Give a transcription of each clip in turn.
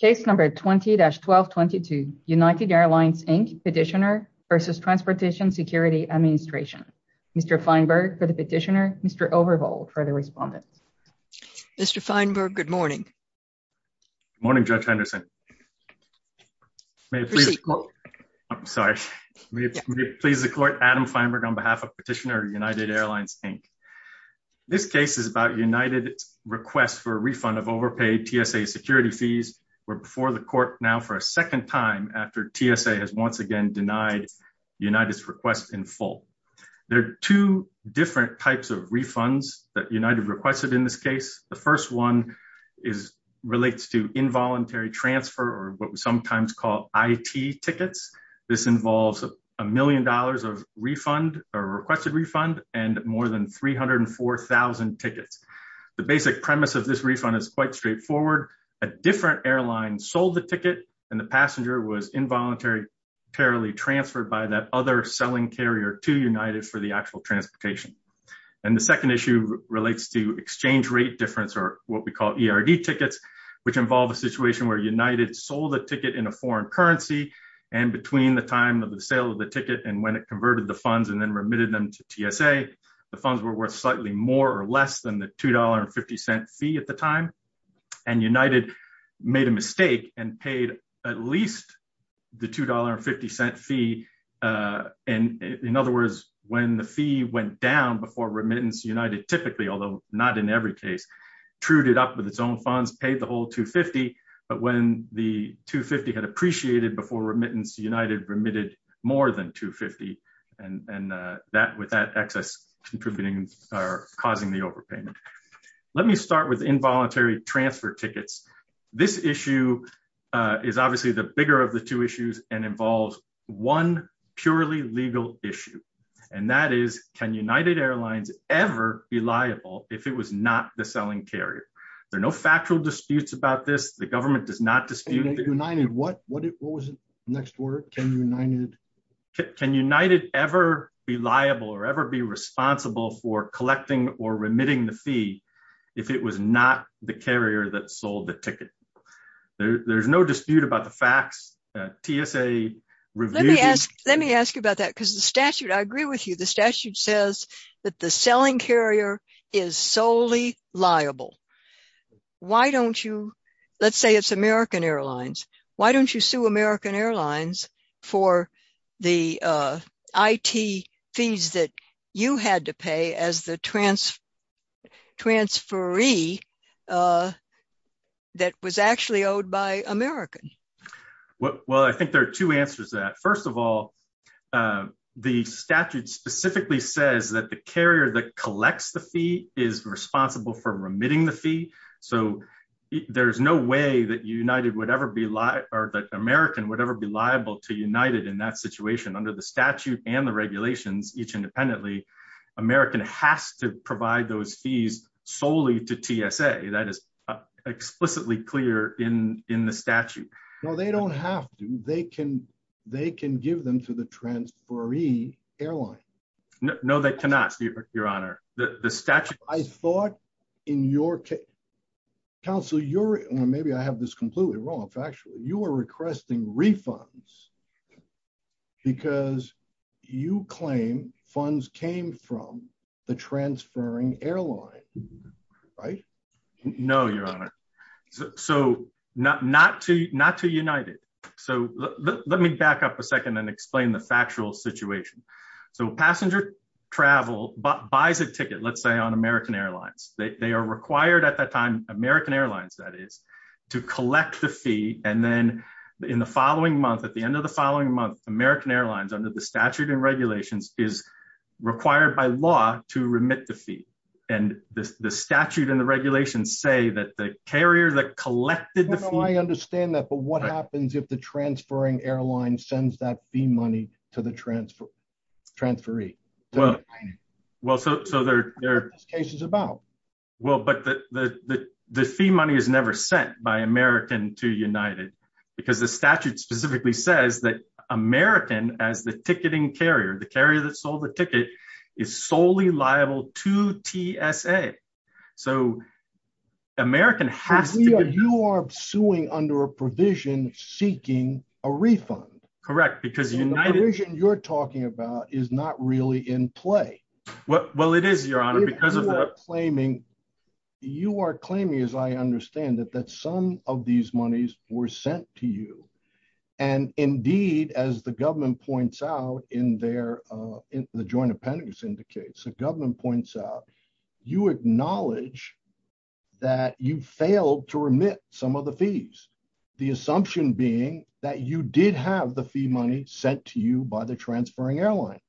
Case number 20-1222, United Airlines, Inc. Petitioner versus Transportation Security Administration. Mr. Feinberg for the petitioner, Mr. Overvold for the respondent. Mr. Feinberg, good morning. Good morning, Judge Henderson. I'm sorry. May it please the court, Adam Feinberg on behalf of Petitioner, United Airlines, Inc. This case is about United's request for a refund of overpaid TSA security fees. We're before the court now for a second time after TSA has once again denied United's request in full. There are two different types of refunds that United requested in this case. The first one relates to involuntary transfer or what we sometimes call IT tickets. This involves a million dollars of requested refund and more than 304,000 tickets. The basic premise of this refund is quite straightforward. A different airline sold the ticket and the passenger was involuntarily transferred by that other selling carrier to United for the actual transportation. The second issue relates to exchange rate difference or what we call ERD tickets, which involve a situation where United sold a ticket in a foreign currency and between the sale of the ticket and when it converted the funds and then remitted them to TSA, the funds were worth slightly more or less than the $2.50 fee at the time. United made a mistake and paid at least the $2.50 fee. In other words, when the fee went down before remittance, United typically, although not in every case, trued it up with its own funds, paid the whole $2.50, but when the $2.50 had appreciated before remittance, United remitted more than $2.50 and with that excess contributing or causing the overpayment. Let me start with involuntary transfer tickets. This issue is obviously the bigger of the two issues and involves one purely legal issue. That is, can United Airlines ever be liable if it was not the fee? Can United ever be liable or ever be responsible for collecting or remitting the fee if it was not the carrier that sold the ticket? There's no dispute about the facts. Let me ask you about that because the statute, I agree with you, the statute says that the selling carrier is solely liable. Let's say it's American Airlines. Why don't you sue American Airlines for the IT fees that you had to pay as the transferee that was actually owed by American? Well, I think there are two answers to that. First of all, the statute specifically says that the carrier that collects the fee is responsible for remitting the fee. There's no way that United would ever be liable or that American would ever be liable to United in that situation. Under the statute and the regulations, each independently, American has to provide those fees solely to TSA. That is explicitly clear in the statute. No, they don't have to. They can give them to the transferee airline. No, they cannot, your honor. The statute- I thought in your case, counsel, maybe I have this completely wrong. In fact, you are requesting refunds because you claim funds came from the transferring airline, right? No, your honor. So not to United. So let me back up a second and explain the factual situation. So passenger travel buys a ticket, let's say on American Airlines. They are required at that time, American Airlines that is, to collect the fee. And then in the following month, at the end of the following month, American Airlines under the statute and regulations is required by law to collect the fee. I understand that, but what happens if the transferring airline sends that fee money to the transferee? Well, but the fee money is never sent by American to United because the statute specifically says that American as the ticketing carrier, the carrier that sold the You are suing under a provision seeking a refund, correct? Because you're talking about is not really in play. Well, it is your honor, because of claiming, you are claiming, as I understand it, that some of these monies were sent to you. And indeed, as the government points out in there, in the joint appendix indicates the government points out, you acknowledge that you failed to remit some of the fees, the assumption being that you did have the fee money sent to you by the transferring airline.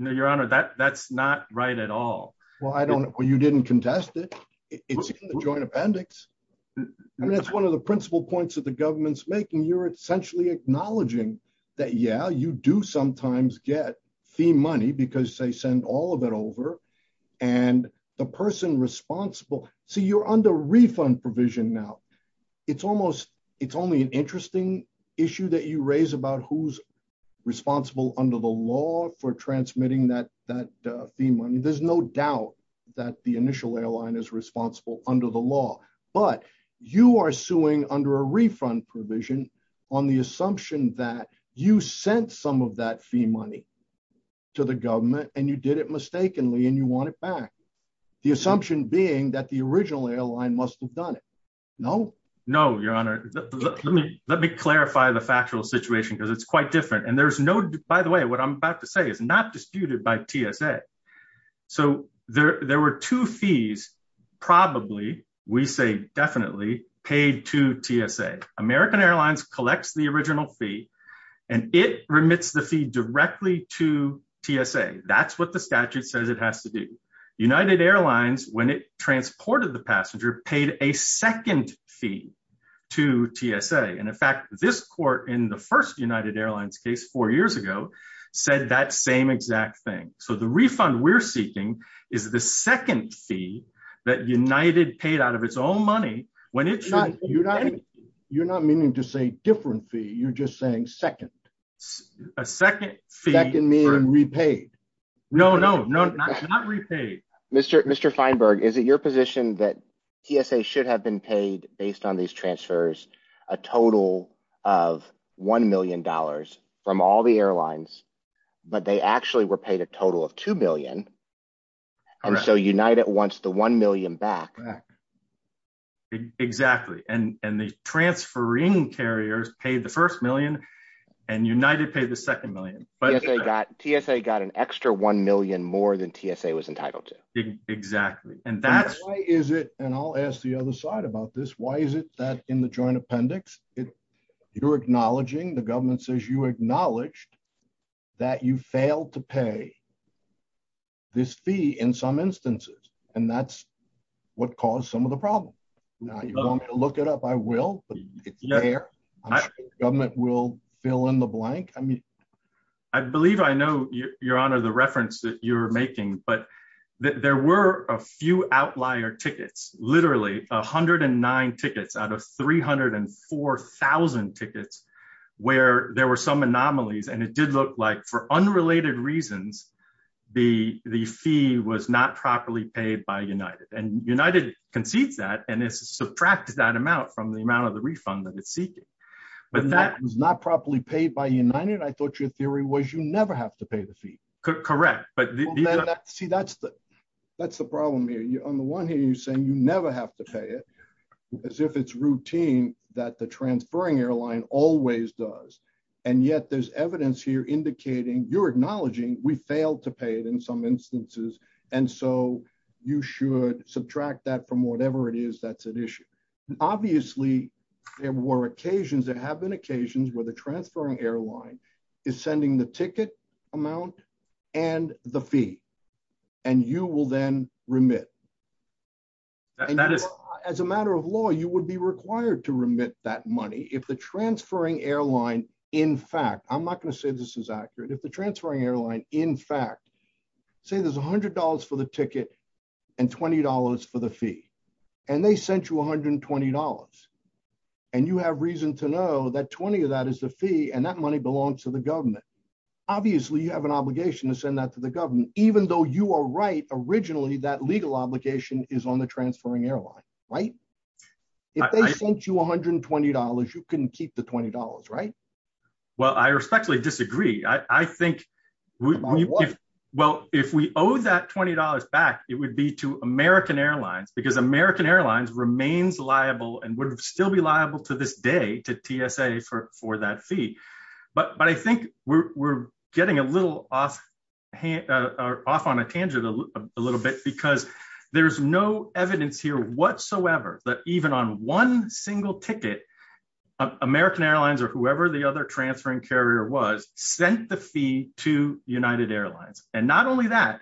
Your honor, that that's not right at all. Well, I don't know what you didn't contest it. It's a joint appendix. And that's one of the principal points of the government's making you're essentially acknowledging that yeah, you do sometimes get fee money because they send all of it over and the person responsible. See, you're under refund provision. Now. It's almost it's only an interesting issue that you raise about who's responsible under the law for transmitting that that fee money. There's no doubt that the initial airline is responsible under the law. But you are suing under a refund provision on the assumption that you sent some of that fee money to the government and you did it mistakenly and you want it back. The assumption being that the original airline must have done it. No, no, your honor. Let me clarify the factual situation because it's quite different. And there's no By the way, what I'm about to say is not disputed by TSA. So there were two fees, probably, we say definitely paid to TSA, American Airlines collects the original fee, and it remits the fee directly to TSA. That's what the statute says it has to do. United Airlines, when it transported the passenger paid a second fee to TSA. And in fact, this court in the first United Airlines case four years ago, said that same exact thing. So the refund we're seeking is the second fee that United paid out of its own money when it's not you're not you're not meaning to say different fee, you're just saying second, a second fee that can mean repaid. No, no, no, not repaid. Mr. Mr. Feinberg, is it your position that TSA should have been paid based on these transfers, a total of $1 million from all the airlines, but they actually were paid a total of $2 million. So United wants the $1 million back? Exactly. And and the transferring carriers paid the first million. And United pay the second million, but they got TSA got an extra $1 million more than TSA was entitled to. Exactly. And that is it. And I'll ask the other side about this. Why is it that in the joint appendix, if you're acknowledging the government says you acknowledged that you failed to pay this fee in some instances, and that's what caused some of the problem. Now, you want to look it up, I will, but government will fill in the blank. I mean, I believe I know your honor the reference that you're making, but there were a few outlier tickets, literally 109 tickets out of 304,000 tickets, where there were some anomalies. And it did look like for unrelated reasons, the the fee was not properly paid by United and United concedes that and it's subtracted that amount from the amount of the refund that it's seeking. But that was not properly paid by United. I thought your theory was you never have to pay the fee. Correct. But see, that's the problem here. On the one hand, you're saying you never have to pay it, as if it's routine, that the transferring airline always does. And yet there's evidence here indicating you're acknowledging we failed to pay it in some instances. And so you should subtract that from whatever it is, that's an issue. Obviously, there were occasions that have been occasions where the transferring airline is sending the ticket amount, and the fee, and you will then remit. That is, as a matter of law, you would be required to remit that money if the transferring airline, in fact, I'm not going to say this is accurate, if the transferring airline, in fact, say there's $100 for the ticket, and $20 for the fee, and they sent you $120. And you have reason to know that 20 of that is the fee and that money belongs to the government. Obviously, you have an obligation to send that to the government, even though you are right, originally, that legal obligation is on the transferring airline, right? If they sent you $120, you can keep the $20, right? Well, I respectfully disagree. I think, well, if we owe that $20 back, it would be to American Airlines, because American Airlines remains liable and would still be liable to this day, to TSA for that fee. But I think we're getting a little off on a tangent a little bit, because there's no evidence here whatsoever that even on one single ticket, American Airlines or whoever the other transferring carrier was, sent the fee to United Airlines. And not only that,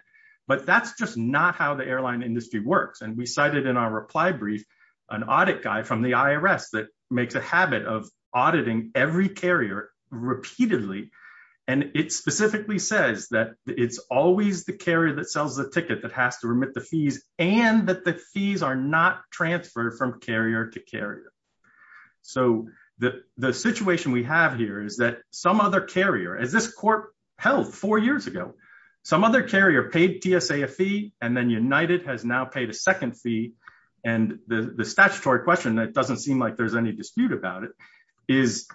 but that's just not how the airline industry works. And we cited in our reply brief, an audit guy from the auditing every carrier repeatedly. And it specifically says that it's always the carrier that sells the ticket that has to remit the fees, and that the fees are not transferred from carrier to carrier. So the situation we have here is that some other carrier, as this court held four years ago, some other carrier paid TSA a fee, and then United has now paid a second fee. And the statutory question that doesn't seem like there's any dispute about it, is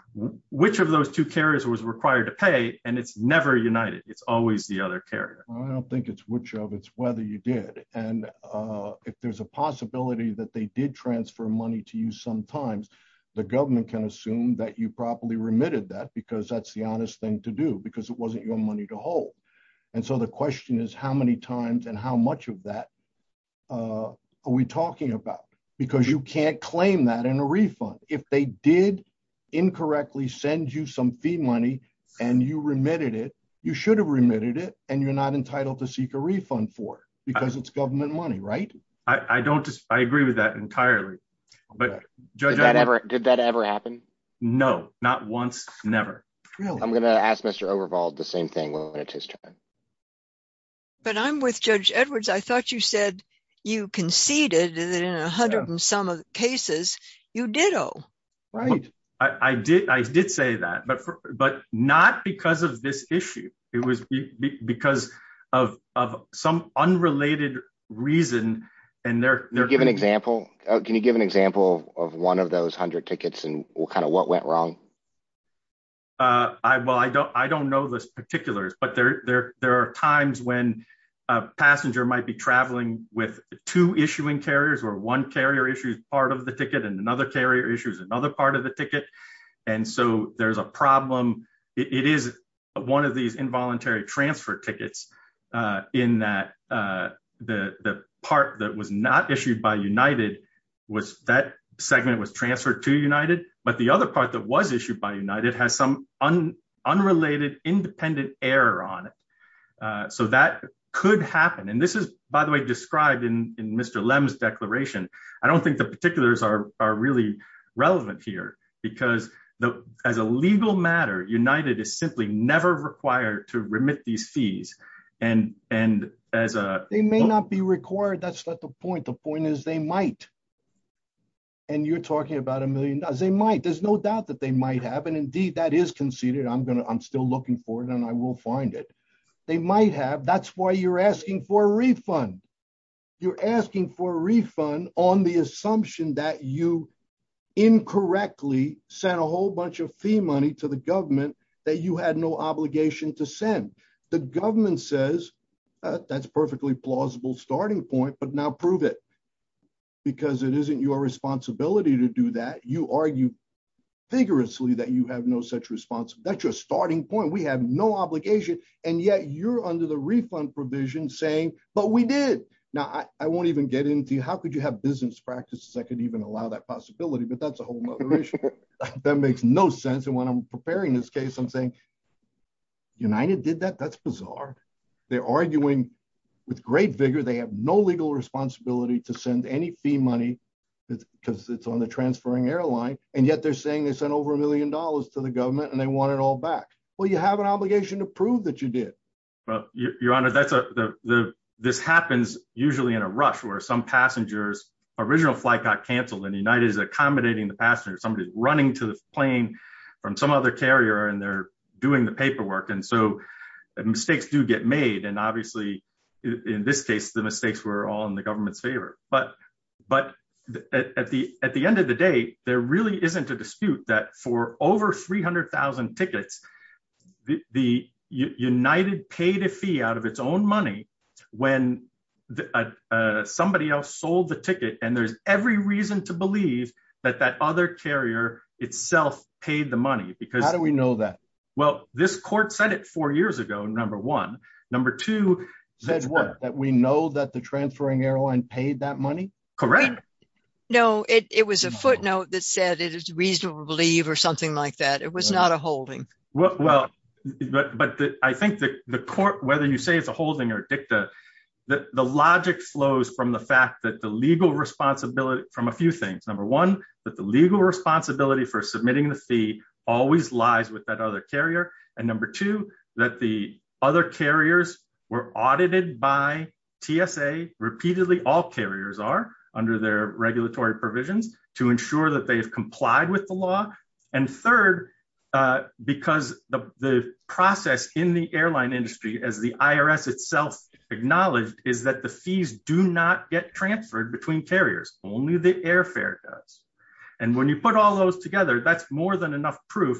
which of those two carriers was required to pay, and it's never United. It's always the other carrier. I don't think it's which of, it's whether you did. And if there's a possibility that they did transfer money to you, sometimes the government can assume that you properly remitted that, because that's the honest thing to do, because it wasn't your money to hold. And so the question is, how many times and how much of that are we talking about? Because you can't claim that in a refund. If they did incorrectly send you some fee money, and you remitted it, you should have remitted it, and you're not entitled to seek a refund for it, because it's government money, right? I don't, I agree with that entirely. But did that ever happen? No, not once. Never. I'm going to ask Mr. Overvalt the same thing when it's his turn. But I'm with Judge Edwards. I thought you said you conceded that in a hundred and some of the cases, you ditto. Right. I did, I did say that, but not because of this issue. It was because of some unrelated reason, and they're- Can you give an example? Can you give an example of one of those hundred tickets, and kind of what went wrong? I, well, I don't, I don't know those particulars, but there, there, there are times when a passenger might be traveling with two issuing carriers, where one carrier issues part of the ticket, and another carrier issues another part of the ticket. And so there's a problem. It is one of these involuntary transfer tickets, in that the, the part that was not issued by United was, that segment was transferred to United, but the other part that was issued by United has some unrelated independent error on it. So that could happen. And this is, by the way, described in, in Mr. Lem's declaration. I don't think the particulars are, are really relevant here, because the, as a legal matter, United is simply never required to remit these fees. And, and as a- You're talking about a million dollars. They might. There's no doubt that they might have, and indeed that is conceded. I'm gonna, I'm still looking for it, and I will find it. They might have. That's why you're asking for a refund. You're asking for a refund on the assumption that you incorrectly sent a whole bunch of fee money to the government that you had no obligation to send. The government says, that's perfectly plausible starting point, but now prove it, because it isn't your responsibility to do that. You argue vigorously that you have no such response. That's your starting point. We have no obligation, and yet you're under the refund provision saying, but we did. Now, I won't even get into how could you have business practices that could even allow that possibility, but that's a whole nother issue. That makes no sense. And when I'm preparing this case, I'm saying, United did that? That's bizarre. They're arguing with great responsibility to send any fee money, because it's on the transferring airline, and yet they're saying they sent over a million dollars to the government, and they want it all back. Well, you have an obligation to prove that you did. Well, your honor, this happens usually in a rush, where some passenger's original flight got canceled, and United is accommodating the passenger. Somebody's running to the plane from some other carrier, and they're doing the government's favor. But at the end of the day, there really isn't a dispute that for over 300,000 tickets, the United paid a fee out of its own money when somebody else sold the ticket, and there's every reason to believe that that other carrier itself paid the money. How do we know that? Well, this court said it four years ago, number one. Number two, says what? That we know that the transferring airline paid that money? Correct. No, it was a footnote that said it is reasonable to believe or something like that. It was not a holding. Well, but I think the court, whether you say it's a holding or dicta, the logic flows from the fact that the legal responsibility from a few things. Number one, that the legal responsibility for submitting the fee always lies with that other carrier. And number two, that the other carriers were audited by TSA repeatedly, all carriers are under their regulatory provisions to ensure that they've complied with the law. And third, because the process in the airline industry, as the IRS itself acknowledged, is that the fees do not get transferred between carriers. Only the airfare does. And when you put all those together, that's more than enough proof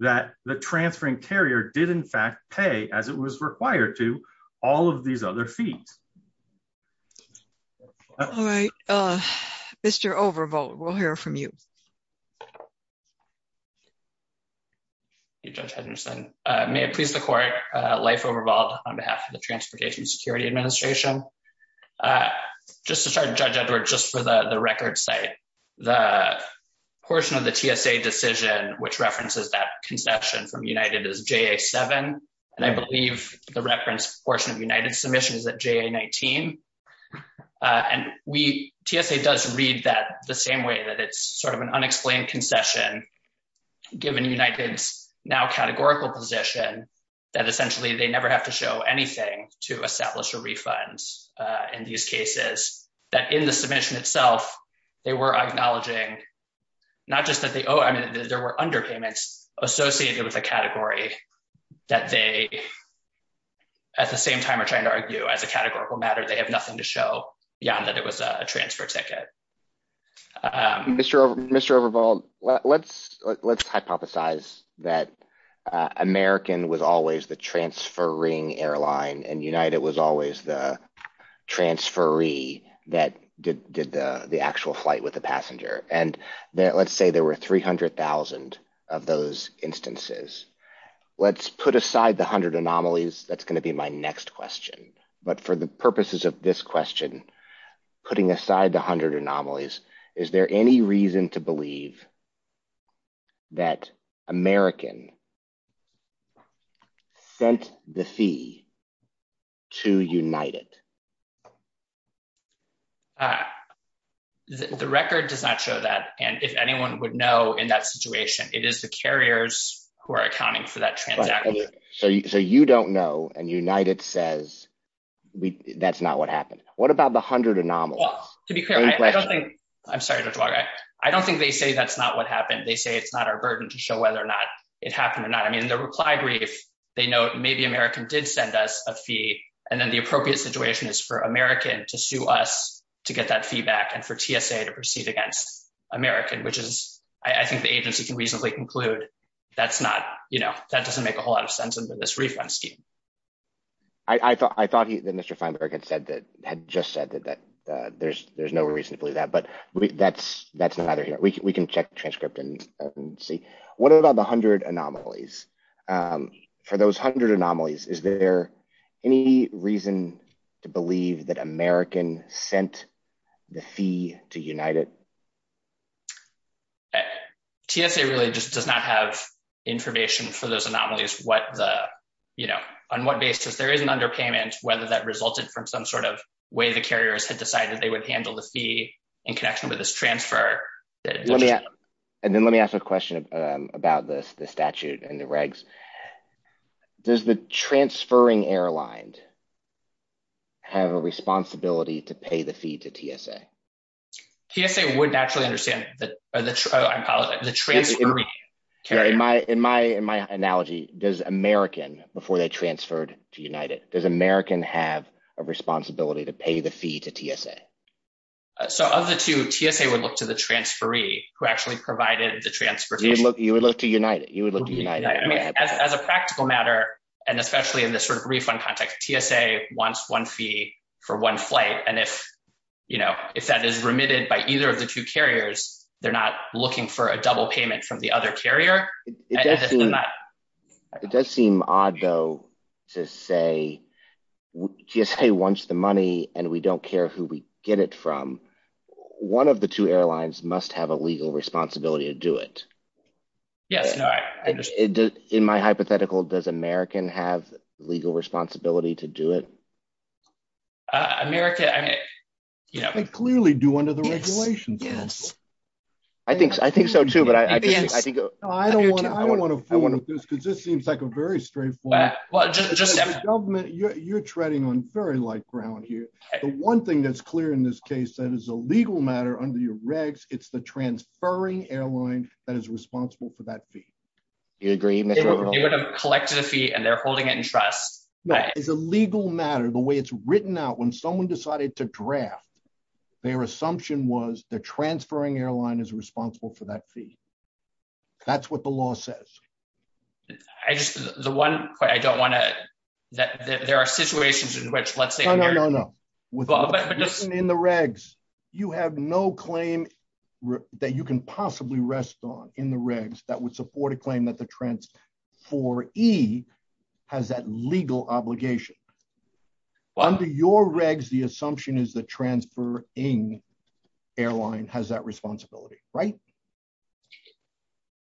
that the transferring carrier did in fact pay, as it was required to, all of these other fees. All right, Mr. Overvolt, we'll hear from you. Judge Henderson, may it please the court, Leif Overvolt on behalf of the Transportation Security Administration. Just to start, Judge Edwards, just for the record's sake, the portion of the TSA decision which references that concession from United is JA-7. And I believe the reference portion of United's submission is at JA-19. And TSA does read that the same way, that it's sort of an unexplained concession, given United's now categorical position, that essentially they never have to show anything to establish a refund in these cases. That in the submission itself, they were acknowledging not just that they owe, I mean there were underpayments associated with a category that they at the same time are trying to argue as a categorical matter, they have nothing to show beyond that it was a transfer ticket. Mr. Overvolt, let's hypothesize that American was always the transferring airline and United was always the transferee that did the actual flight with the passenger. And let's say there were 300,000 of those instances. Let's put aside the 100 anomalies, that's going to be my next question. But for the purposes of this question, putting aside the 100 anomalies, is there any reason to believe that American sent the fee to United? The record does not show that. And if anyone would know in that situation, it is the carriers who are accounting for that transaction. So you don't know and United says that's not what happened. What about the 100 anomalies? To be clear, I don't think, I'm sorry, I don't think they say that's not what happened. They say it's not our burden to show whether or not it happened or not. I mean, the reply brief, they note maybe American did send us a fee and then the appropriate situation is for American to sue us to get that fee back and for TSA to proceed against American, which is, I think the agency can reasonably conclude that's not, you know, that doesn't make a whole lot of sense under this refund scheme. I thought Mr. Feinberg had said that, there's no reason to believe that, but that's not either here. We can check the transcript and see. What about the 100 anomalies? For those 100 anomalies, is there any reason to believe that American sent the fee to United? TSA really just does not have information for those anomalies, what the, you know, on what basis there is an underpayment, whether that resulted from some sort of way the carriers had decided they would handle the fee in connection with this transfer. And then let me ask a question about this, the statute and the regs. Does the transferring airline have a responsibility to pay the fee to TSA? TSA would naturally understand that, oh, I apologize, the transferring carrier. In my analogy, does American, before they transferred to United, does American have a responsibility to pay the fee to TSA? So of the two, TSA would look to the transferee who actually provided the transportation. You would look to United, you would look to United. I mean, as a practical matter, and especially in this sort of refund context, TSA wants one fee for one flight. And if, you know, if that is remitted by either of the two carriers, they're not looking for a double payment from the other carrier. It does seem odd, though, to say, TSA wants the money, and we don't care who we get it from. One of the two airlines must have a legal responsibility to do it. Yes. In my hypothetical, does American have legal responsibility to do it? America, I mean, you know. They clearly do under the regulations. Yes. I think, I think so, too, but I think, I think. No, I don't want to, I don't want to fool with this, because this seems like a very straight forward. Well, just, just. As a government, you're treading on very light ground here. The one thing that's clear in this case, that is a legal matter under your regs, it's the transferring airline that is responsible for that fee. You agree, Mr. O'Connell? They would have collected a fee, and they're holding it in trust. But as a legal matter, the way it's written out, when someone decided to draft, their assumption was the transferring airline is responsible for that fee. That's what the law says. I just, the one, I don't want to, there are situations in which, let's say. No, no, no, no. In the regs, you have no claim that you can possibly rest on in the regs that would support a claim that the transferee has that legal obligation. Under your regs, the assumption is the transferring airline has that responsibility, right?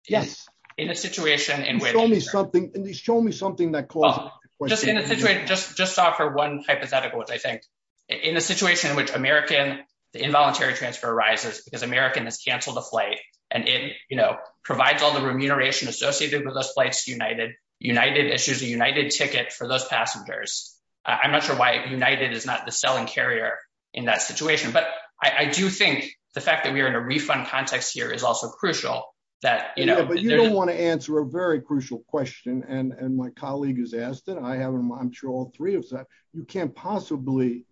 Yes. In a situation in which- Show me something, at least show me something that causes- Well, just in a situation, just to offer one hypothetical, which I think, in a situation in which American, the involuntary transfer arises, because American has canceled the flight, and it, you know, provides all the remuneration associated with those flights to United. United issues a United ticket for those passengers. I'm not sure why United is not the selling carrier in that situation, but I do think the fact that we are in a refund context here is also crucial that, you know- Yeah, but you don't want to answer a very crucial question, and my colleague has asked it, I haven't, I'm sure all three have said, you can't possibly,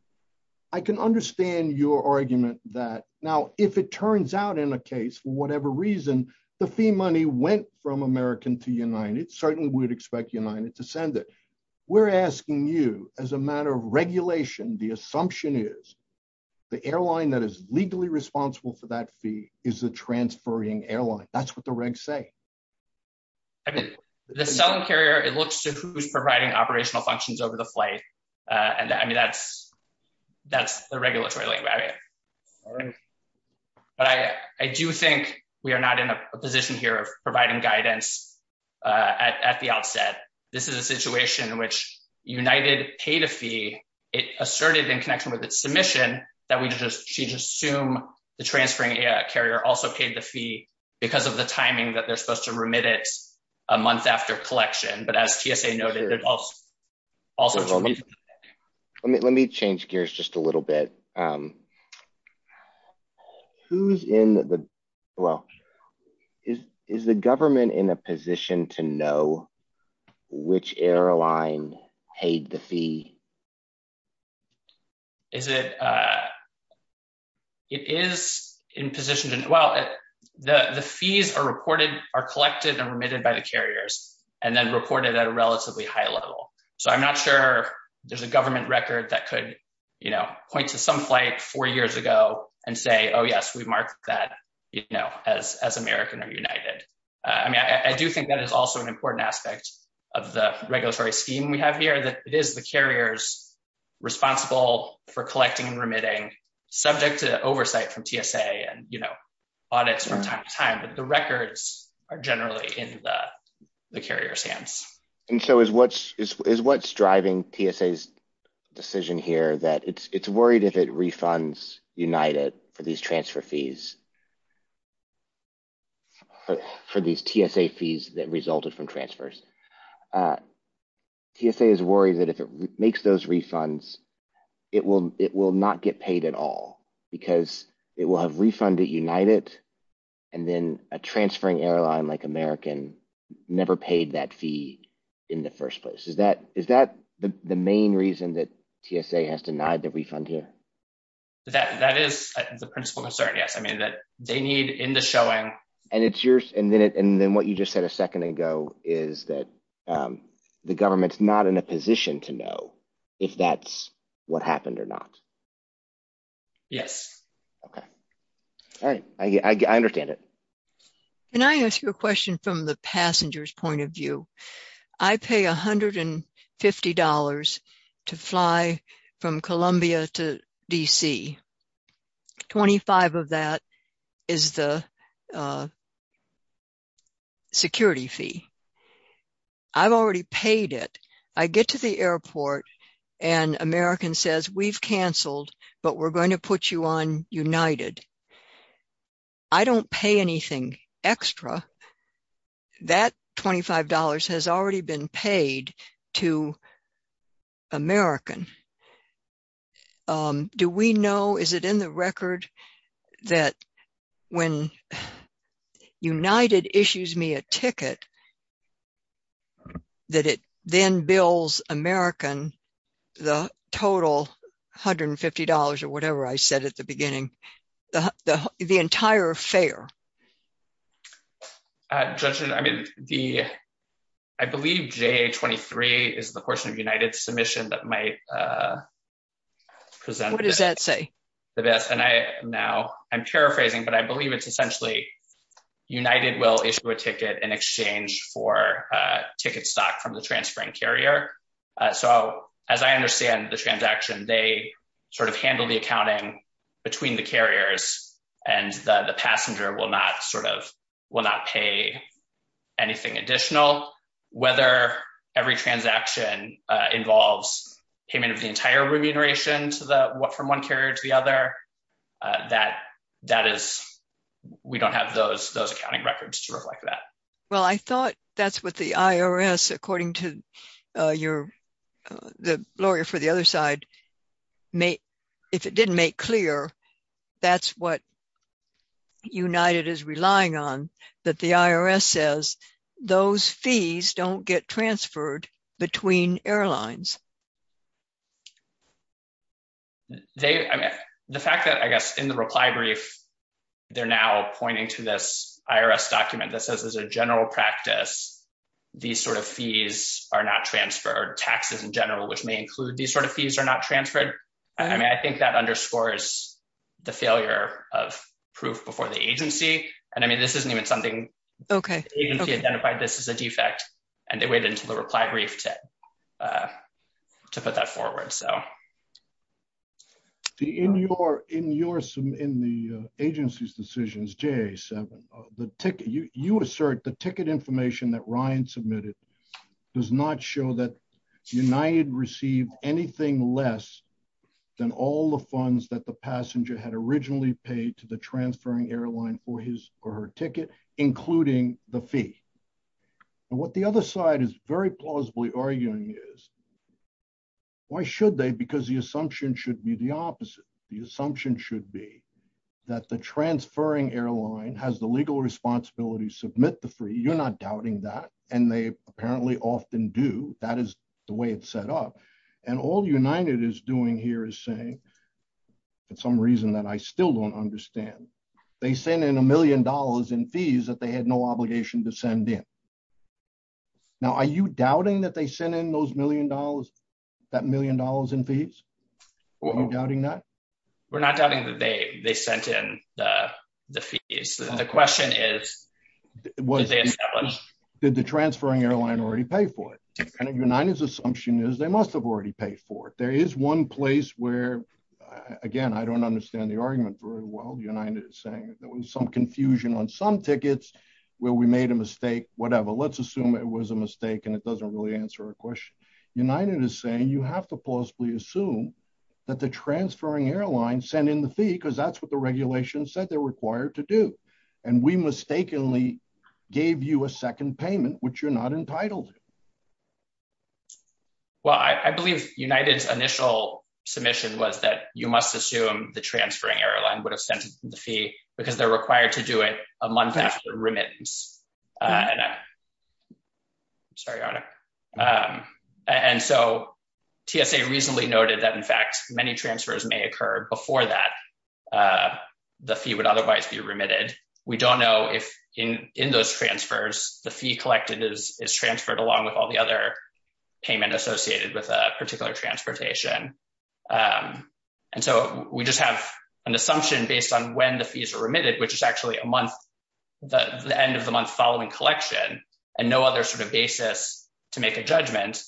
I can understand your argument that, now, if it turns out in a case, for whatever reason, the fee money went from American to we're asking you, as a matter of regulation, the assumption is the airline that is legally responsible for that fee is the transferring airline. That's what the regs say. I mean, the selling carrier, it looks to who's providing operational functions over the flight, and I mean, that's the regulatory language. But I do think we are not in a position here of providing guidance at the outset. This is a situation in which United paid a fee, it asserted in connection with its submission, that we just, she just assumed the transferring carrier also paid the fee because of the timing that they're supposed to remit it a month after collection, but as TSA noted, also- Let me change gears just a little bit. Who's in the, well, is the government in a position to know which airline paid the fee? Is it, it is in position to, well, the fees are reported, are collected and remitted by the carriers, and then reported at a relatively high level. So I'm not sure there's a government record that could point to some flight four years ago and say, oh yes, we marked that as American or United. I mean, I do think that is also an important aspect of the regulatory scheme we have here, that it is the carriers responsible for collecting and remitting subject to oversight from TSA and audits from time to time, but the records are generally in the carrier's hands. And so is what's driving TSA's decision here, that it's worried if it refunds United for these transfer fees, for these TSA fees that resulted from transfers. TSA is worried that if it makes those refunds, it will not get paid at all, because it will have refunded United, and then a transferring airline like American never paid that fee in the first place. Is that the main reason that TSA has denied the refund here? That is the principal concern, yes. I mean, that they need in the showing. And then what you just said a second ago is that the government's not in a position to know if that's what happened or not. Yes. Okay. All right. I understand it. Can I ask you a question from the passenger's point of view? I pay $150 to fly from Columbia to D.C. 25 of that is the security fee. I've already paid it. I get to the airport, and American says, we've canceled, but we're going to put you on United. I don't pay anything extra. That $25 has already been paid to American. Do we know, is it in the record, that when United issues me a ticket, that it then bills American the total $150 or whatever I said at the beginning, the entire fare? Judge, I mean, I believe J23 is the portion of United submission that might present the best. What does that say? And now I'm paraphrasing, but I believe it's United will issue a ticket in exchange for ticket stock from the transferring carrier. So as I understand the transaction, they handle the accounting between the carriers, and the passenger will not pay anything additional. Whether every transaction involves payment of the entire remuneration from one carrier to the other, that is, we don't have those accounting records to reflect that. Well, I thought that's what the IRS, according to the lawyer for the other side, if it didn't make clear, that's what United is relying on, that the IRS says, those fees don't get transferred between airlines. They, I mean, the fact that, I guess, in the reply brief, they're now pointing to this IRS document that says, as a general practice, these sort of fees are not transferred, taxes in general, which may include these sort of fees are not transferred. I mean, I think that underscores the failure of proof before the agency. And I mean, this isn't even something the agency identified, this is a defect. And they waited until the reply brief to put that forward. So. In your, in the agency's decisions, J7, you assert the ticket information that Ryan submitted does not show that United received anything less than all the funds that the passenger had originally paid to the transferring airline for his or her ticket, including the fee. And what the other side is very plausibly arguing is, why should they? Because the assumption should be the opposite. The assumption should be that the transferring airline has the legal responsibility to submit the fee. You're not doubting that. And they apparently often do. That is the way it's set up. And all United is doing here is saying, for some reason that I still don't understand, they sent in a million dollars in fees that they had no obligation to send in. Now, are you doubting that they sent in those million dollars, that million dollars in fees? Are you doubting that? We're not doubting that they they sent in the fees. The question is, did the transferring airline already pay for it? And United's assumption is they must have already paid for it. There is one place where, again, I don't understand the argument very well, United is saying there was some confusion on some tickets where we made a mistake, whatever. Let's assume it was a mistake and it doesn't really answer a question. United is saying you have to plausibly assume that the transferring airline sent in the fee because that's what the regulation said they're required to do. And we mistakenly gave you a second payment, which you're not entitled to. Well, I believe United's initial submission was that you must assume the transferring airline would have sent the fee because they're required to do it a month after remittance. I'm sorry. And so TSA recently noted that, in fact, many transfers may occur before that the fee would otherwise be remitted. We don't know if in those transfers, the fee collected is transferred along with all the other payment associated with a particular transportation. And so we just have an assumption based on when the fees are remitted, which is actually a month, the end of the month following collection, and no other sort of basis to make a judgment.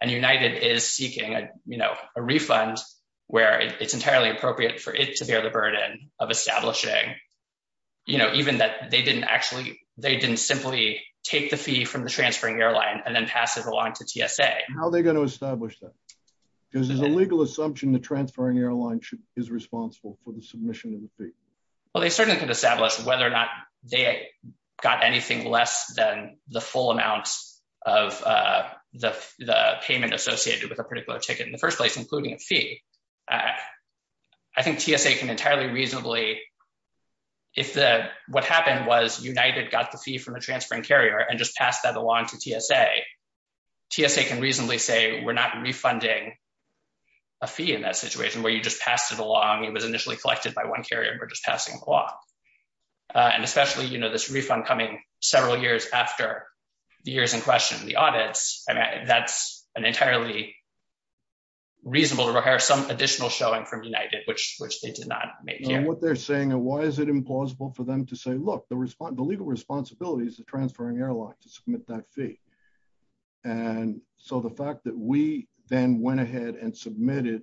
And United is seeking a refund where it's entirely appropriate for it to bear the burden of establishing, even that they didn't simply take the fee from the transferring airline and then pass it along to TSA. How are they going to establish that? Because there's a legal assumption the transferring airline is responsible for the submission of the fee. Well, they certainly could establish whether or not they got anything less than the full amount of the payment associated with a particular ticket in the first place, including a fee. I think TSA can entirely reasonably, if what happened was United got the fee from the transferring carrier and just passed it along to TSA, TSA can reasonably say, we're not refunding a fee in that situation where you just passed it along. It was initially collected by one carrier and we're just passing it along. And especially, you know, this refund coming several years after the years in question, the audits, I mean, that's an entirely reasonable to require some additional showing from United, which they did not make here. What they're saying and why is it implausible for them to say, look, the legal responsibility is the transferring airline to submit that fee. And so the fact that we then went ahead and submitted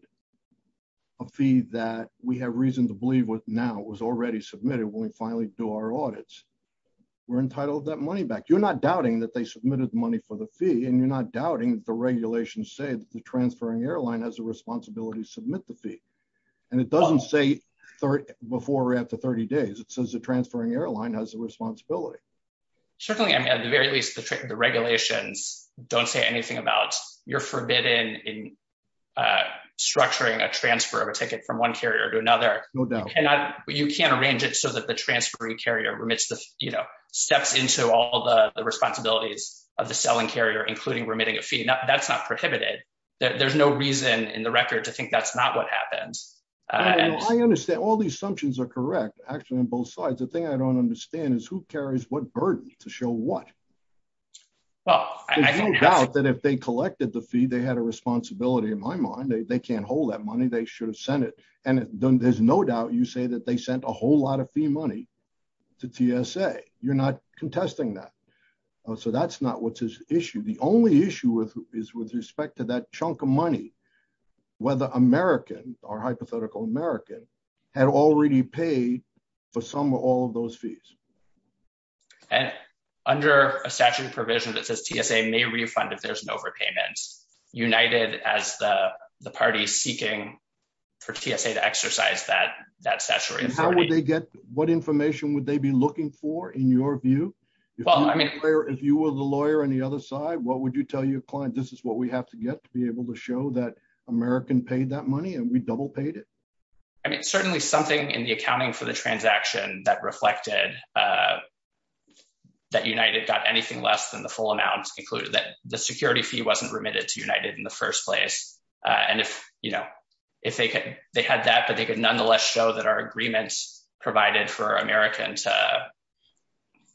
a fee that we have reason to believe with now was already submitted when we finally do our audits, we're entitled that money back. You're not doubting that they submitted the money for the fee and you're not doubting that the regulations say that the transferring airline has a responsibility to submit the fee. And it doesn't say before or after 30 days, it says the transferring airline has a responsibility. Certainly, I mean, at the very least, the regulations don't say anything about you're forbidden in structuring a transfer of a ticket from one carrier to another. You can't arrange it so that the transferring carrier remits the, you know, steps into all the responsibilities of the selling carrier, including remitting a fee. That's not prohibited. There's no reason in the record to think that's not what happens. I understand all the assumptions are correct, actually, on both sides. The thing I don't understand is who carries what burden to show what? There's no doubt that if they collected the fee, they had a responsibility in my mind. They can't hold that money. They should have sent it. And there's no doubt you say that they sent a whole lot of fee money to TSA. You're not contesting that. So that's not what's his issue. The only issue is with respect to that chunk of money, whether American or hypothetical American had already paid for some or all of those fees. And under a statute of provisions that says TSA may refund if there's an overpayment, United as the party seeking for TSA to exercise that statutory authority. What information would they be looking for, in your view? Well, I mean, if you were the lawyer on the other side, what would you tell your client, this is what we have to get to be able to show that American paid that money and we double paid it. I mean, certainly something in the accounting for the transaction that reflected that United got anything less than the full amount included that the security fee wasn't remitted to United in the first place. And if, you know, if they could, they had that, they could nonetheless show that our agreements provided for American to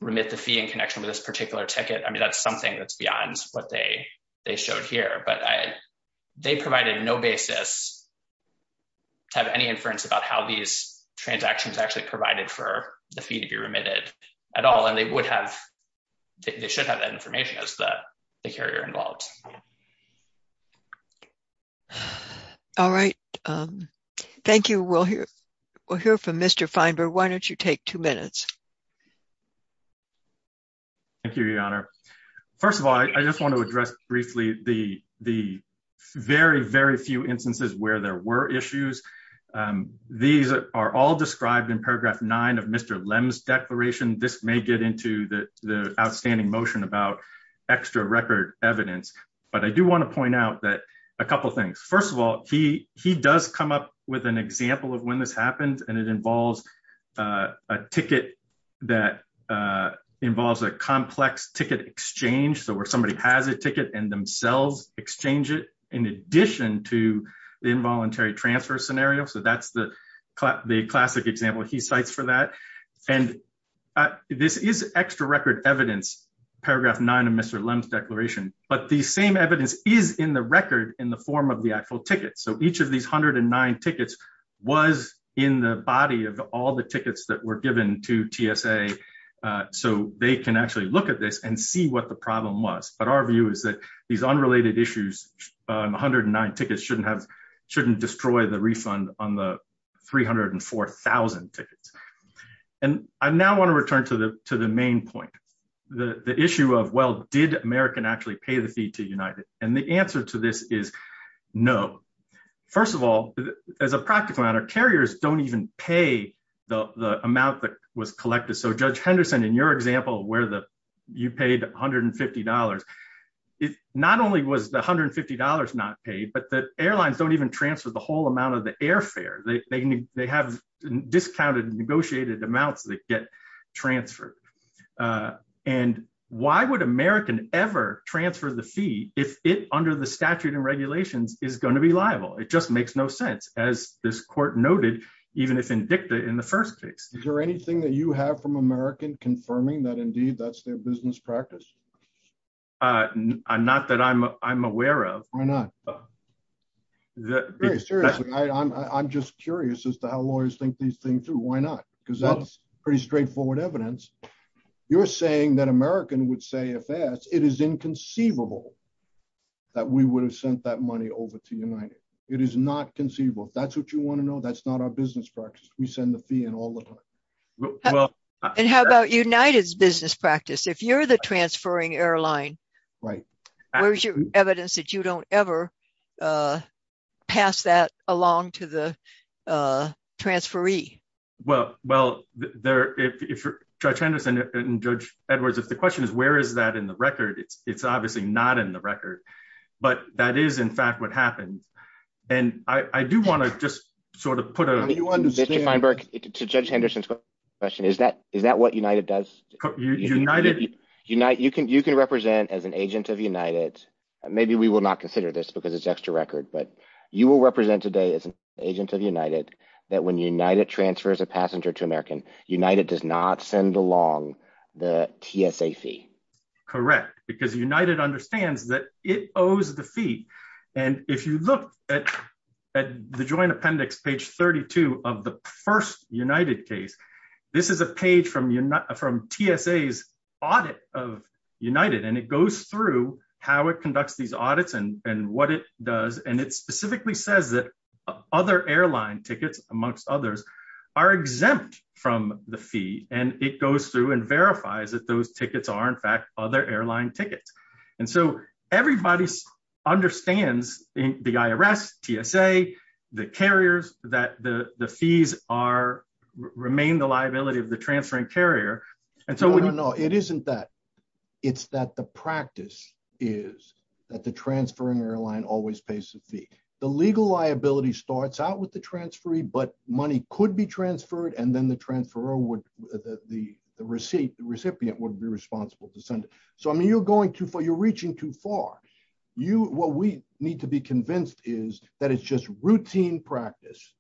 remit the fee in connection with this particular ticket. I mean, that's something that's beyond what they showed here, but they provided no basis to have any inference about how these transactions actually provided for the fee to be remitted at all. And they would have, they should have that We'll hear from Mr. Feinberg. Why don't you take two minutes? Thank you, Your Honor. First of all, I just want to address briefly the very, very few instances where there were issues. These are all described in paragraph nine of Mr. Lem's declaration. This may get into the outstanding motion about extra record evidence, but I do want to point out that first of all, he does come up with an example of when this happened and it involves a ticket that involves a complex ticket exchange. So where somebody has a ticket and themselves exchange it in addition to the involuntary transfer scenario. So that's the classic example he cites for that. And this is extra record evidence, paragraph nine of Mr. Lem's declaration, but the same evidence is in the record in the form of the actual ticket. So each of these 109 tickets was in the body of all the tickets that were given to TSA. So they can actually look at this and see what the problem was. But our view is that these unrelated issues, 109 tickets shouldn't destroy the refund on the 304,000 tickets. And I now want to return to the main point, the issue of, well, did American actually pay the fee to United? And the answer to this is no. First of all, as a practical matter, carriers don't even pay the amount that was collected. So Judge Henderson, in your example where you paid $150, not only was the $150 not paid, but the airlines don't even transfer the whole amount of the airfare. They have discounted amounts that get transferred. And why would American ever transfer the fee if it under the statute and regulations is going to be liable? It just makes no sense as this court noted, even if indicted in the first case. Is there anything that you have from American confirming that indeed that's their business practice? Not that I'm aware of. Why not? Very seriously, I'm just curious as to how lawyers think these things through. Why not? Because that's pretty straightforward evidence. You're saying that American would say if asked, it is inconceivable that we would have sent that money over to United. It is not conceivable. If that's what you want to know, that's not our business practice. We send the fee and all of it. And how about United's business practice? If you're the transferring airline, right? Where's your evidence that you don't ever pass that along to the transferee? Well, if Judge Henderson and Judge Edwards, if the question is, where is that in the record? It's obviously not in the record, but that is in fact what happened. And I do want to just sort of put a- I mean, you understand- Mr. Feinberg, to Judge Henderson's question, is that what United does? You can represent as an agent of United. Maybe we will not consider this because it's extra record, but you will represent today as an agent of United that when United transfers a passenger to American, United does not send along the TSA fee. Correct. Because United understands that it owes the fee. And if you look at the joint appendix, page 32 of the first United case, this is a page from TSA's audit of United. And it goes through how it conducts these audits and what it does. And it specifically says that other airline tickets, amongst others, are exempt from the fee. And it goes through and verifies that those tickets are, in fact, other airline tickets. And so everybody understands the IRS, TSA, the carriers, that the fees are- remain the liability of the transferring carrier. No, no, no. It isn't that. It's that the practice is that the transferring airline always pays the fee. The legal liability starts out with the transferee, but money could be transferred and then the transferor would- the receipt, the recipient would be responsible to send it. So, I mean, you're going too far. You're reaching too far. What we need to be convinced is that it's just routine practice.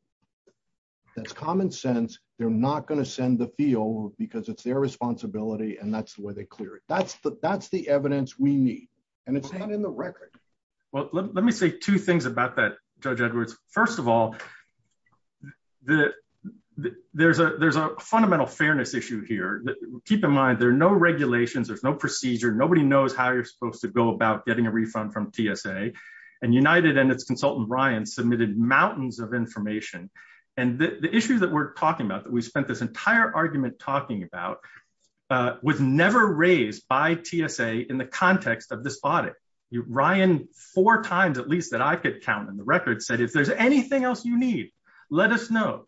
That's common sense. They're not going to send the fee over because it's their responsibility and that's the way they clear it. That's the evidence we need. And it's not in the record. Well, let me say two things about that, Judge Edwards. First of all, there's a fundamental fairness issue here. Keep in mind, there are no regulations, there's no procedure. Nobody knows how you're supposed to go about getting a refund from TSA. And United and its consultant, Ryan, submitted mountains of information. And the issue that we're talking about, that we spent this entire argument talking about, was never raised by TSA in the context of this audit. Ryan, four times at least that I could count in the record, said, if there's anything else you need, let us know.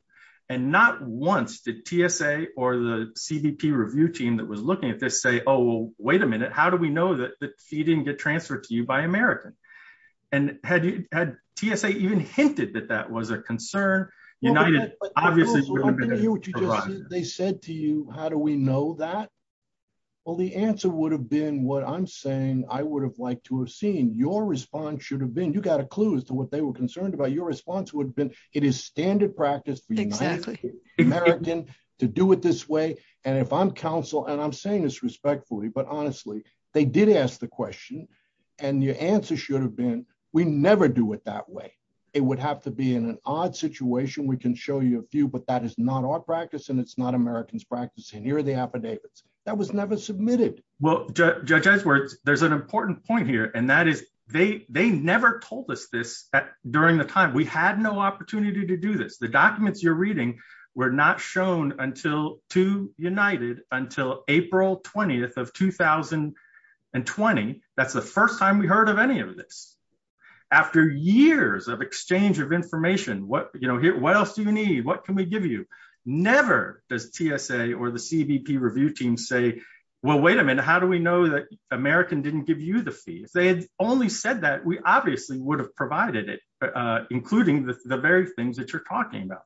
And not once did TSA or the CBP review team that was looking at this say, oh, well, wait a minute. How do we know that the fee didn't get transferred to you by American? And had TSA even hinted that that was a concern? United, obviously, they said to you, how do we know that? Well, the answer would have been what I'm saying, I would have liked to have seen. Your response should have been, you got a clue as to what they were concerned about. Your response would have been, it is standard practice for United, American to do it this way. And if I'm counsel, and I'm saying this respectfully, but honestly, they did ask the question. And your answer should have been, we never do it that way. It would have to be in an odd situation. We can show you a few, but that is not our practice. And it's not American's practice. And here are the affidavits that was never submitted. Well, Judge Edgeworth, there's an important point here. And that is, they never told us this during the time, we had no opportunity to do this. The documents you're reading, were not shown until to United until April 20th of 2020. That's the first time we heard of any of this. After years of exchange of information, what else do you need? What can we give you? Never does TSA or the CBP review team say, well, wait a minute, how do we know that American didn't give you the fee? If they had only said that, we obviously would have provided it, including the very things that you're talking about.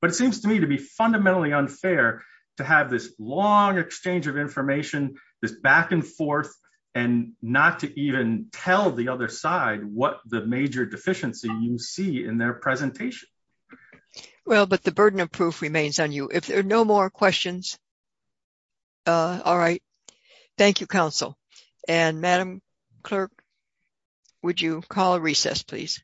But it seems to me to be fundamentally unfair to have this long exchange of information, this back and forth, and not to even tell the other side what the major deficiency you see in their presentation. Well, but the burden of proof remains on you. If there are no more questions, all right. Thank you, counsel. And Madam Clerk, would you call a recess, please?